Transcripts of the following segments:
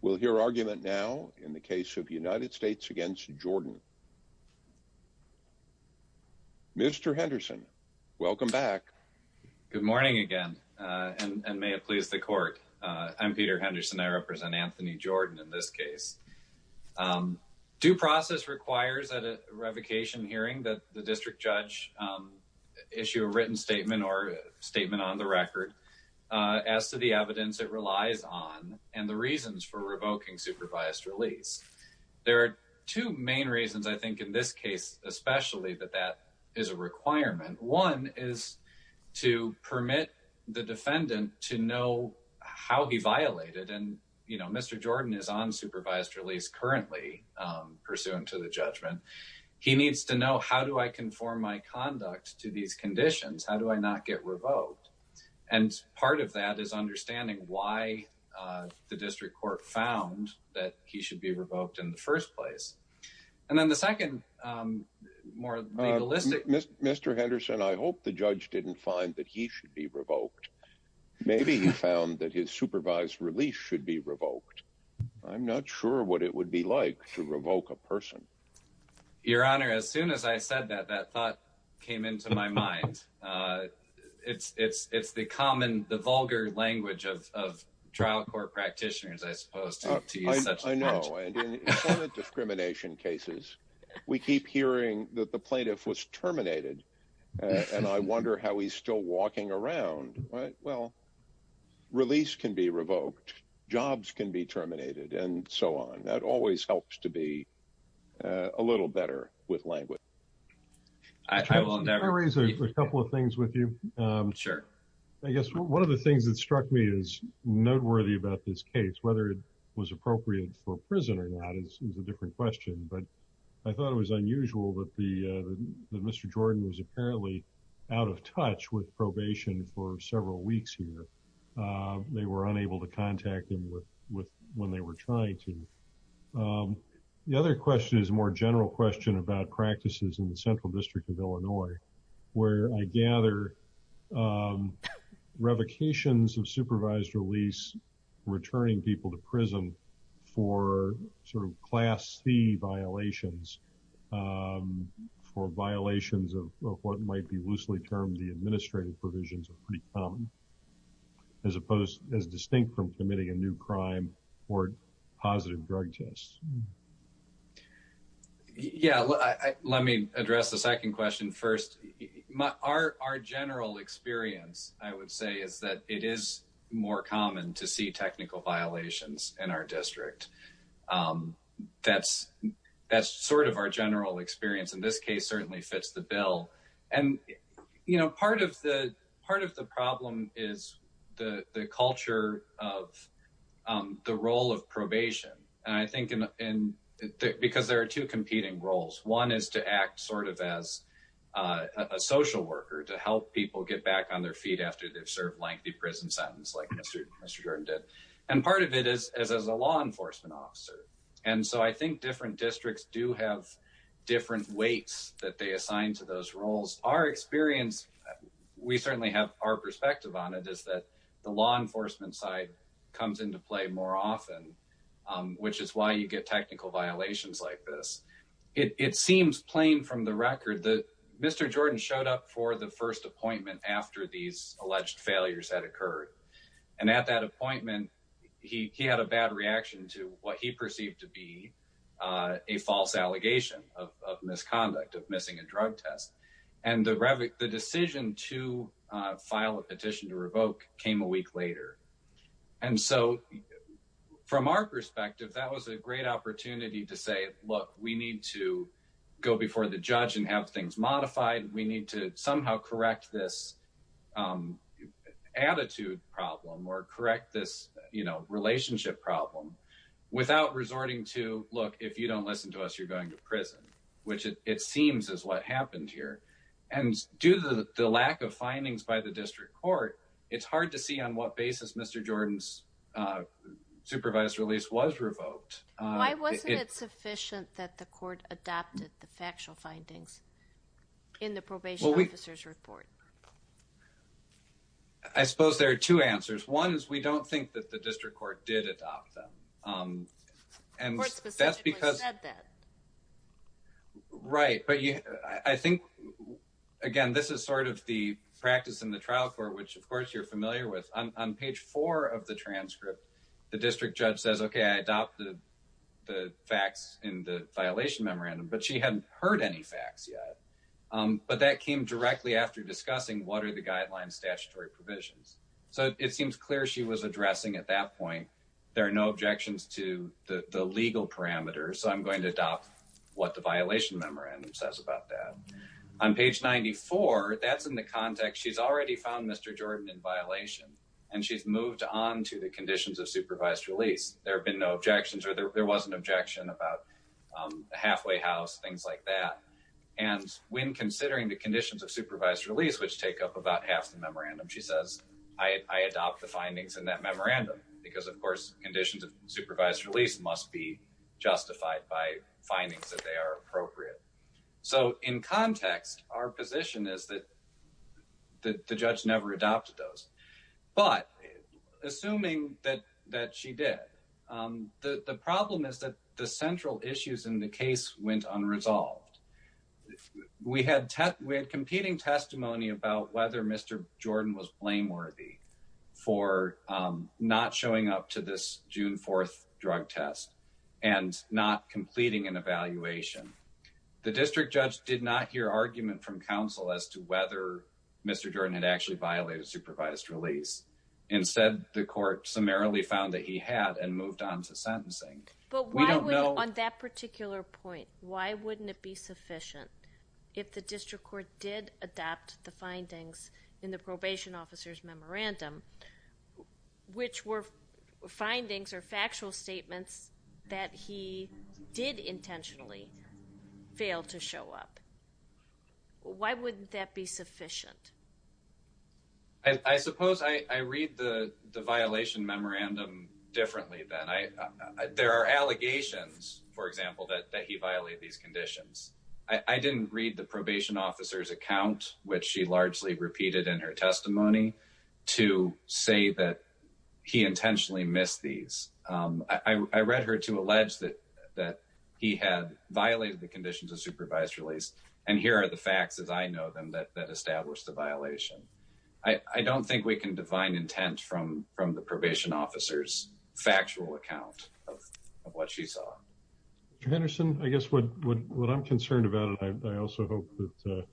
We'll hear argument now in the case of United States against Jordan. Mr. Henderson, welcome back. Good morning again, and may it please the court. I'm Peter Henderson. I represent Anthony Jordan in this case. Due process requires that a revocation hearing that the district judge issue a written statement or statement on the record. As to the evidence, it relies on and the reasons for revoking supervised release. There are two main reasons I think in this case, especially that that is a requirement. One is to permit the defendant to know how he violated and you know, Mr. Jordan is on supervised release currently pursuant to the judgment. He needs to know how do I conform my conduct to these conditions? How do I not get revoked? And part of that is understanding why the district court found that he should be revoked in the first place. And then the second more legalistic Mr. Henderson, I hope the judge didn't find that he should be revoked. Maybe he found that his supervised release should be revoked. I'm not sure what it would be like to revoke a person. Your Honor, as it's, it's, it's the common, the vulgar language of, of trial court practitioners, I suppose to use such discrimination cases, we keep hearing that the plaintiff was terminated. And I wonder how he's still walking around, right? Well, release can be revoked, jobs can be terminated and so on. That always helps to be a little better with language. I will Sure. I guess one of the things that struck me is noteworthy about this case, whether it was appropriate for prison or not is a different question. But I thought it was unusual that the Mr. Jordan was apparently out of touch with probation for several weeks here. They were unable to contact him with when they were trying to. The other question is a more general question about practices in the central district of Illinois, where I gather revocations of supervised release, returning people to prison for sort of class C violations for violations of what might be loosely termed the administrative provisions are pretty common, as opposed as distinct from committing a new crime or positive drug tests. Yeah, let me address the second question first. Our general experience, I would say is that it is more common to see technical violations in our district. That's, that's sort of our general experience in this case certainly fits the bill. And, you know, part of the part of the problem is the culture of the role of probation. And I think in because there are two competing roles. One is to act sort of as a social worker to help people get back on their feet after they've served lengthy prison sentence like Mr. Jordan did. And part of it is as a law enforcement officer. And so I think different districts do have different weights that they assign to those roles. Our experience, we certainly have our perspective on it is that the law enforcement side comes into play more often, which is why you get technical violations like this. It seems plain from the record that Mr. Jordan showed up for the first appointment after these alleged failures had occurred. And at that appointment, he had a bad reaction to what he perceived to be a false allegation of misconduct of missing a drug test. And the decision to file a petition to revoke came a week later. And so from our perspective, that was a great opportunity to say, look, we need to go before the judge and have things modified. We need to somehow correct this attitude problem or correct this, you know, relationship problem without resorting to look, if you don't listen to us, you're going to prison, which it seems is what happened here. And due to the lack of findings by the district court, it's hard to see on what basis Mr. Jordan's supervised release was revoked. Why wasn't it sufficient that the court adopted the factual findings in the probation officer's report? I suppose there are two answers. One is we don't think that the district court did adopt them. The court specifically said that. Right, but I think, again, this is sort of the practice in the trial court, which of course you're familiar with. On page four of the transcript, the district judge says, okay, I adopted the facts in the violation memorandum, but she hadn't heard any facts yet. But that came directly after discussing what are the guidelines, statutory provisions. So it seems clear she was addressing at that point, there are no objections to the legal parameters. So I'm going to adopt what the violation memorandum says about that. On page 94, that's in the context, she's already found Mr. Jordan in violation and she's moved on to the conditions of supervised release. There have been no objections or there was an objection about a halfway house, things like that. And when considering the conditions of supervised release, which take up about half the memorandum, she says, I adopt the findings in that memorandum because of course conditions of supervised release must be justified by findings that they are appropriate. So in context, our position is that the judge never adopted those. But assuming that she did, the problem is that the central issues in the case went unresolved. We had competing testimony about whether Mr. Jordan was blameworthy for not showing up to this June 4th drug test and not completing an evaluation. The district judge did not hear argument from counsel as to whether Mr. Jordan had actually violated supervised release. Instead, the court summarily found that he had and moved on to sentencing. But why would, on that particular point, why wouldn't it be sufficient if the district court did adopt the findings in the probation officer's memorandum, which were findings or factual statements that he did intentionally fail to show up? Why wouldn't that be sufficient? I suppose I read the violation memorandum differently than I, there are allegations, for example, that he violated these conditions. I didn't read the probation officer's account, which she largely repeated in her testimony, to say that he intentionally missed these. I read her to allege that he had violated the conditions of supervised release. And here are the facts as I know them that established the violation. I don't think we can divine intent from the probation officer's factual account of what she saw. Mr. Henderson, I guess what I'm concerned about, and I also hope that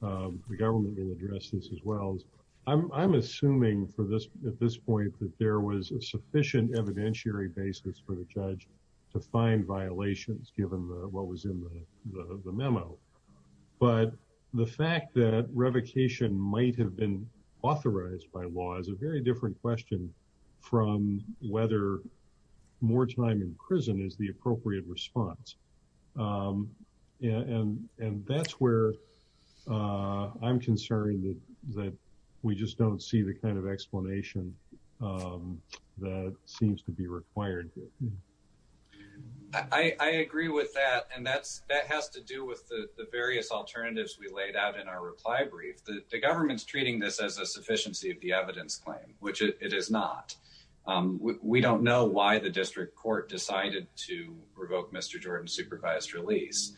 the government will address this as well, is I'm assuming at this point that there was a sufficient evidentiary basis for the judge to find violations given what was in the memo. But the fact that revocation might have been authorized by law is a very different question from whether more time in prison is the appropriate response. And that's where I'm concerned that we just don't see the kind of explanation that seems to be required. I agree with that. And that has to do with the various alternatives we laid out in our reply brief. The government's treating this as a sufficiency of the evidence claim, which it is not. We don't know why the district court decided to revoke Mr. Jordan's supervised release.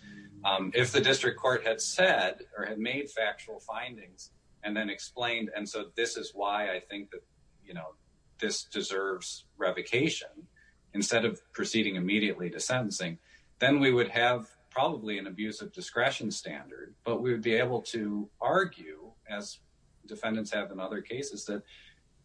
If the district court had said or had made factual findings and then explained, and so this is why I think that, you know, this deserves revocation instead of proceeding immediately to sentencing, then we would have probably an abuse of discretion standard. But we would be able to argue, as defendants have in other cases, that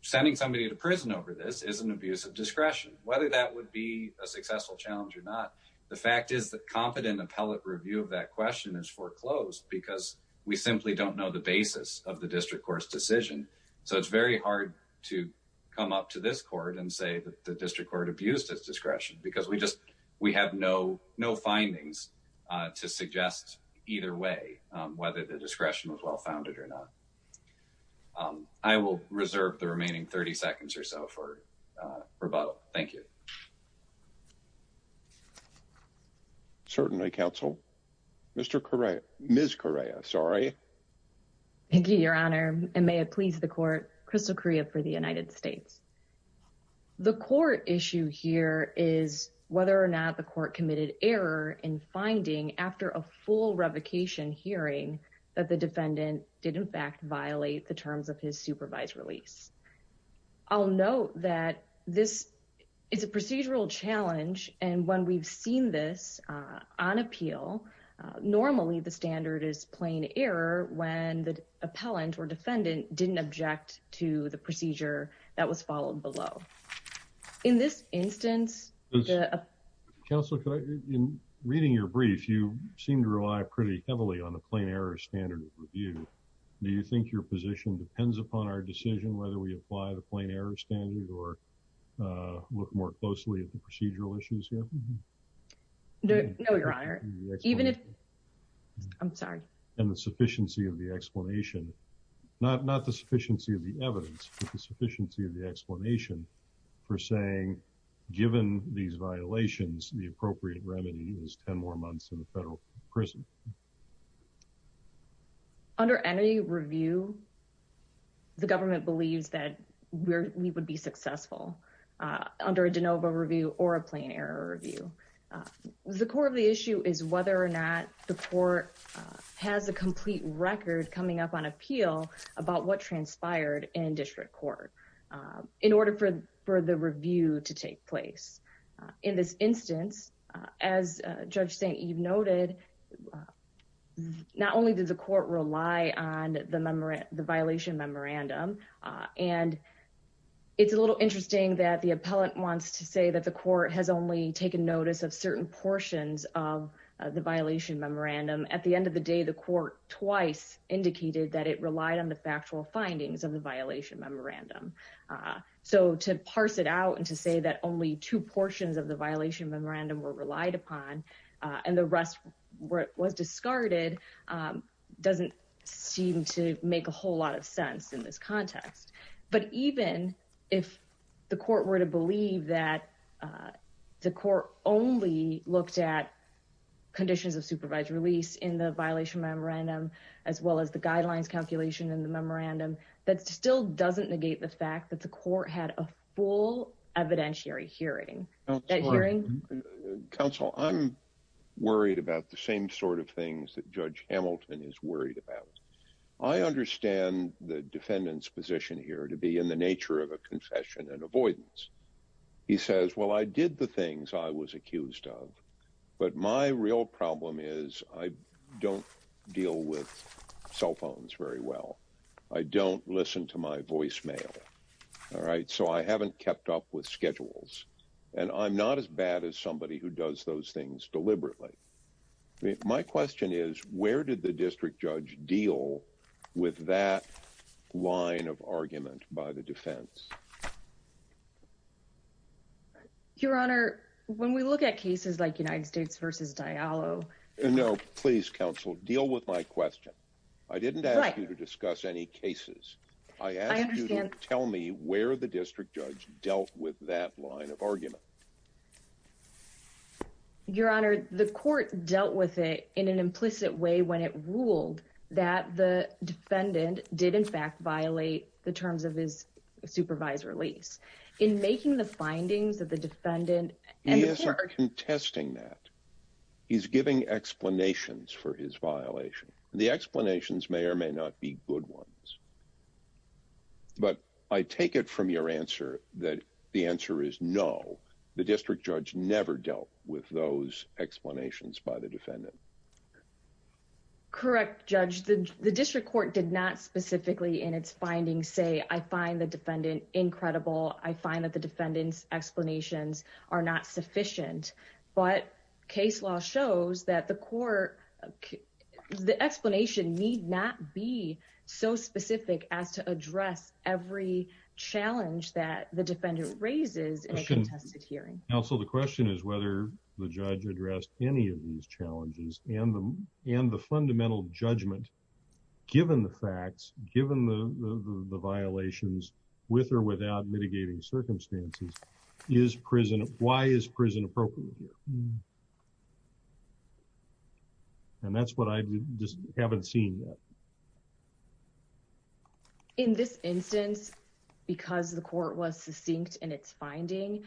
sending somebody to prison over this is an abuse of discretion, whether that would be a successful challenge or not. The fact is that competent appellate review of that question is foreclosed because we simply don't know the basis of the district court's decision. So it's very hard to come up to this court and say that the district court abused its discretion because we just we have no findings to suggest either way whether the discretion was well-founded or not. I will reserve the remaining 30 seconds or so for rebuttal. Thank you. Certainly, Counsel. Mr. Correa, Ms. Correa, sorry. Thank you, Your Honor, and may it please the court, Crystal Correa for the United States. The court issue here is whether or not the court committed error in finding, after a full revocation hearing, that the defendant did in fact violate the terms of his supervised release. I'll note that this is a procedural challenge, and when we've seen this on appeal, normally the standard is plain error when the appellant or defendant didn't object to the procedure that was followed below. In this instance, the... Counsel, in reading your brief, you seem to rely pretty heavily on the plain error standard of review. Do you think your position depends upon our decision whether we apply the plain error standard or look more closely at the procedural issues here? No, Your Honor. Even if... I'm sorry. And the sufficiency of the explanation, not the sufficiency of the evidence, but the sufficiency of the explanation for saying, given these violations, the appropriate remedy is 10 more months in the federal prison. Under any review, the government believes that we would be successful under a de novo review or a plain error review. The core of the issue is whether or not the court has a complete record coming up on appeal about what transpired in district court in order for the review to take place. In this instance, as Judge St. Eve noted, not only does the court rely on the violation memorandum, and it's a little interesting that the appellant wants to say that the court has only taken notice of certain portions of the violation memorandum. At the end of the day, the court twice indicated that it relied on the factual findings of the violation memorandum. So to parse it out and to say that only two portions of the violation memorandum were relied upon and the rest was discarded doesn't seem to make a whole lot of sense in this context. But even if the court were to believe that the court only looked at conditions of supervised release in the violation memorandum, as well as the guidelines calculation in the memorandum, that still doesn't negate the fact that the court had a full evidentiary hearing. Counsel, I'm worried about the same sort of things that Judge Hamilton is worried about. I understand the defendant's position here to be in the nature of a confession and avoidance. He says, well, I did the things I was accused of, but my real problem is I don't deal with cell phones very well. I don't listen to my voicemail. All right. So I haven't kept up with schedules and I'm not as bad as somebody who does those things deliberately. My question is, where did the district judge deal with that line of argument by the defense? Your Honor, when we look at cases like United States versus Diallo. No, please, counsel, deal with my question. I didn't ask you to discuss any cases. I understand. Tell me where the district judge dealt with that line of argument. Your Honor, the court dealt with it in an implicit way when it ruled that the defendant did, in fact, violate the terms of his supervisor lease in making the findings of the defendant. He is contesting that he's giving explanations for his violation. The explanations may or may not be good ones. But I take it from your answer that the answer is no. The district judge never dealt with those explanations by the defendant. Correct, Judge. The district court did not specifically in its findings say, I find the defendant incredible. I find that the defendant's explanations are not sufficient. But case law shows that the court, the explanation need not be so specific as to address every challenge that the defendant raises in a contested hearing. Counsel, the question is whether the judge addressed any of these challenges and the fundamental judgment, given the facts, given the violations with or without mitigating circumstances, is prison, why is prison appropriate here? And that's what I just haven't seen yet. In this instance, because the court was succinct in its finding,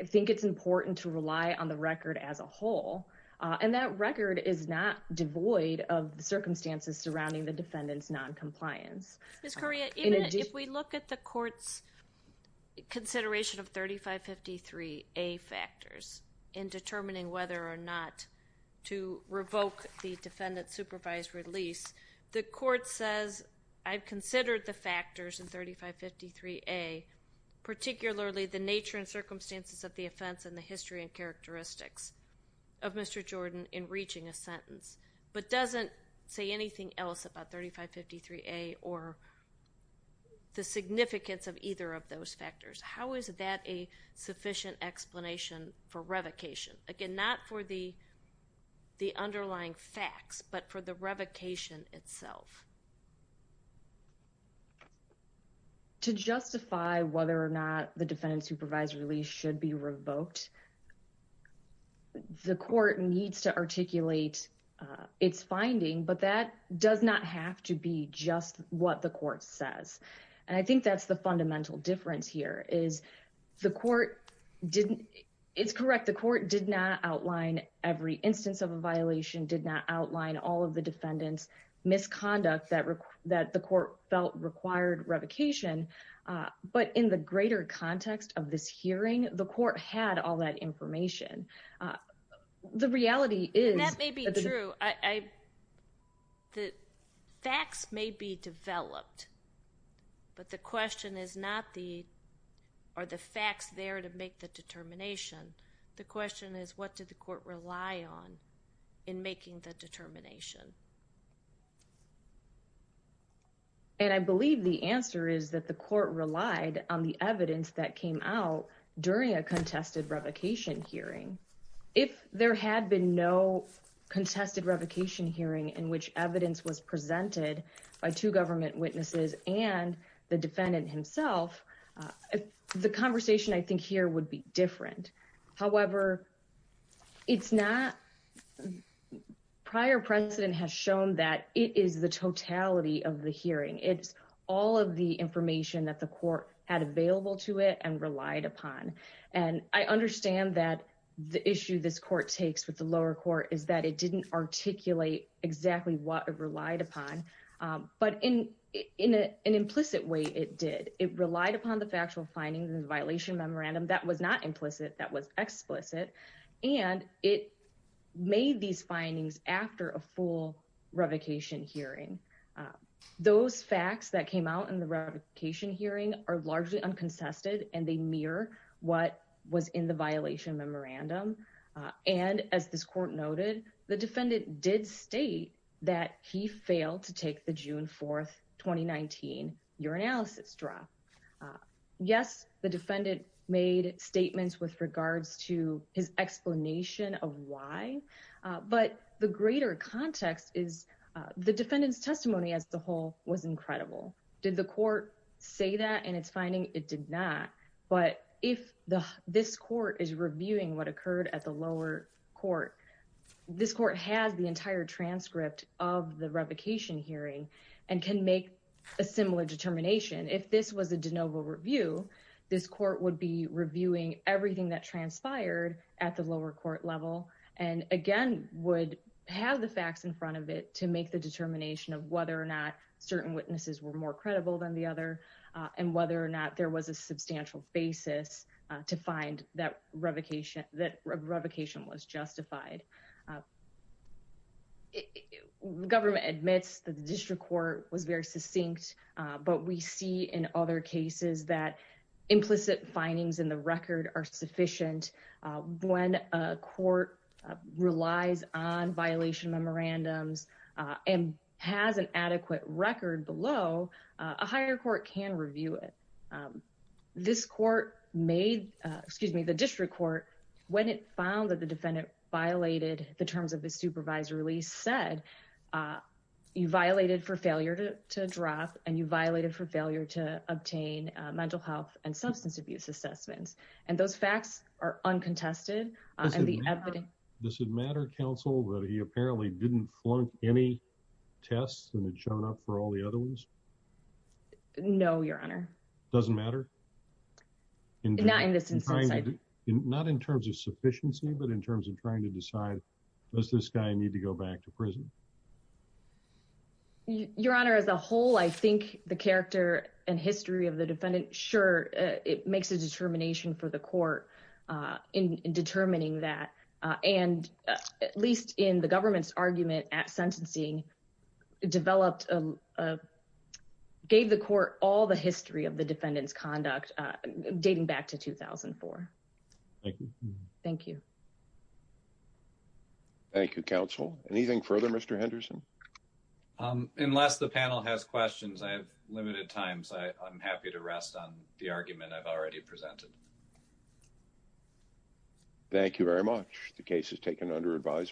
I think it's important to rely on the record as a whole. And that record is not devoid of the circumstances surrounding the defendant's noncompliance. Ms. Correa, if we look at the court's consideration of 3553A factors in determining whether or not to revoke the defendant's supervised release, the court says, I've considered the factors in 3553A, particularly the nature and circumstances of the offense and the history and characteristics of Mr. Jordan in reaching a sentence. But doesn't say anything else about 3553A or the significance of either of those factors. How is that a sufficient explanation for revocation? Again, not for the underlying facts, but for the revocation itself. To justify whether or not the defendant's supervised release should be revoked, the court needs to articulate its finding, but that does not have to be just what the court says. And I think that's the fundamental difference here is the court didn't, it's correct. The court did not outline every instance of a violation, did not outline all of the defendant's misconduct that the court felt required revocation. But in the greater context of this hearing, the court had all that information. The reality is- And that may be true. The facts may be developed, but the question is not the, are the facts there to make the determination? The question is, what did the court rely on in making the determination? And I believe the answer is that the court relied on the evidence that came out during a contested revocation hearing. If there had been no contested revocation hearing in which evidence was presented by two government witnesses and the defendant himself, the conversation I think here would be different. However, it's not, prior precedent has shown that it is the totality of the hearing. It's all of the information that the court had available to it and relied upon. And I understand that the issue this court takes with the lower court is that it didn't articulate exactly what it relied upon, but in an implicit way it did. It relied upon the factual findings in the violation memorandum that was not implicit, that was explicit. And it made these findings after a full revocation hearing. Those facts that came out in the revocation hearing are largely unconsested and they mirror what was in the violation memorandum. And as this court noted, the defendant did state that he failed to take the June 4th, 2019 urinalysis drop. Yes, the defendant made statements with regards to his explanation of why, but the greater context is the defendant's testimony as the whole was incredible. Did the court say that in its finding? It did not. But if this court is reviewing what occurred at the lower court, this court has the entire transcript of the revocation hearing and can make a similar determination. If this was a de novo review, this court would be reviewing everything that transpired at the lower court level and again would have the facts in front of it to make the determination of whether or not certain witnesses were more credible than the other and whether or not there was a substantial basis to find that revocation was justified. The government admits that the district court was very succinct, but we see in other cases that implicit findings in the record are sufficient. When a court relies on violation memorandums and has an adequate record below, a higher court can review it. This court made, excuse me, the district court, when it found that the defendant violated the terms of the supervisory release, said you violated for failure to drop and you violated for failure to obtain mental health and substance abuse assessments and those facts are uncontested. Does it matter, counsel, that he apparently didn't flunk any tests and had shown up for all the other ones? No, your honor. Doesn't matter? Not in this instance. Not in terms of sufficiency, but in terms of trying to decide, does this guy need to go back to prison? Your honor, as a whole, I think the character and history of the defendant, sure, it makes a determination for the court in determining that and at least in the government's argument at sentencing developed, gave the court all the history of the defendant's conduct dating back to 2004. Thank you. Thank you. Thank you, counsel. Anything further, Mr. Henderson? Unless the panel has questions, I have limited time, so I'm happy to rest on the argument I've already presented. Thank you very much. The case is taken under advisement.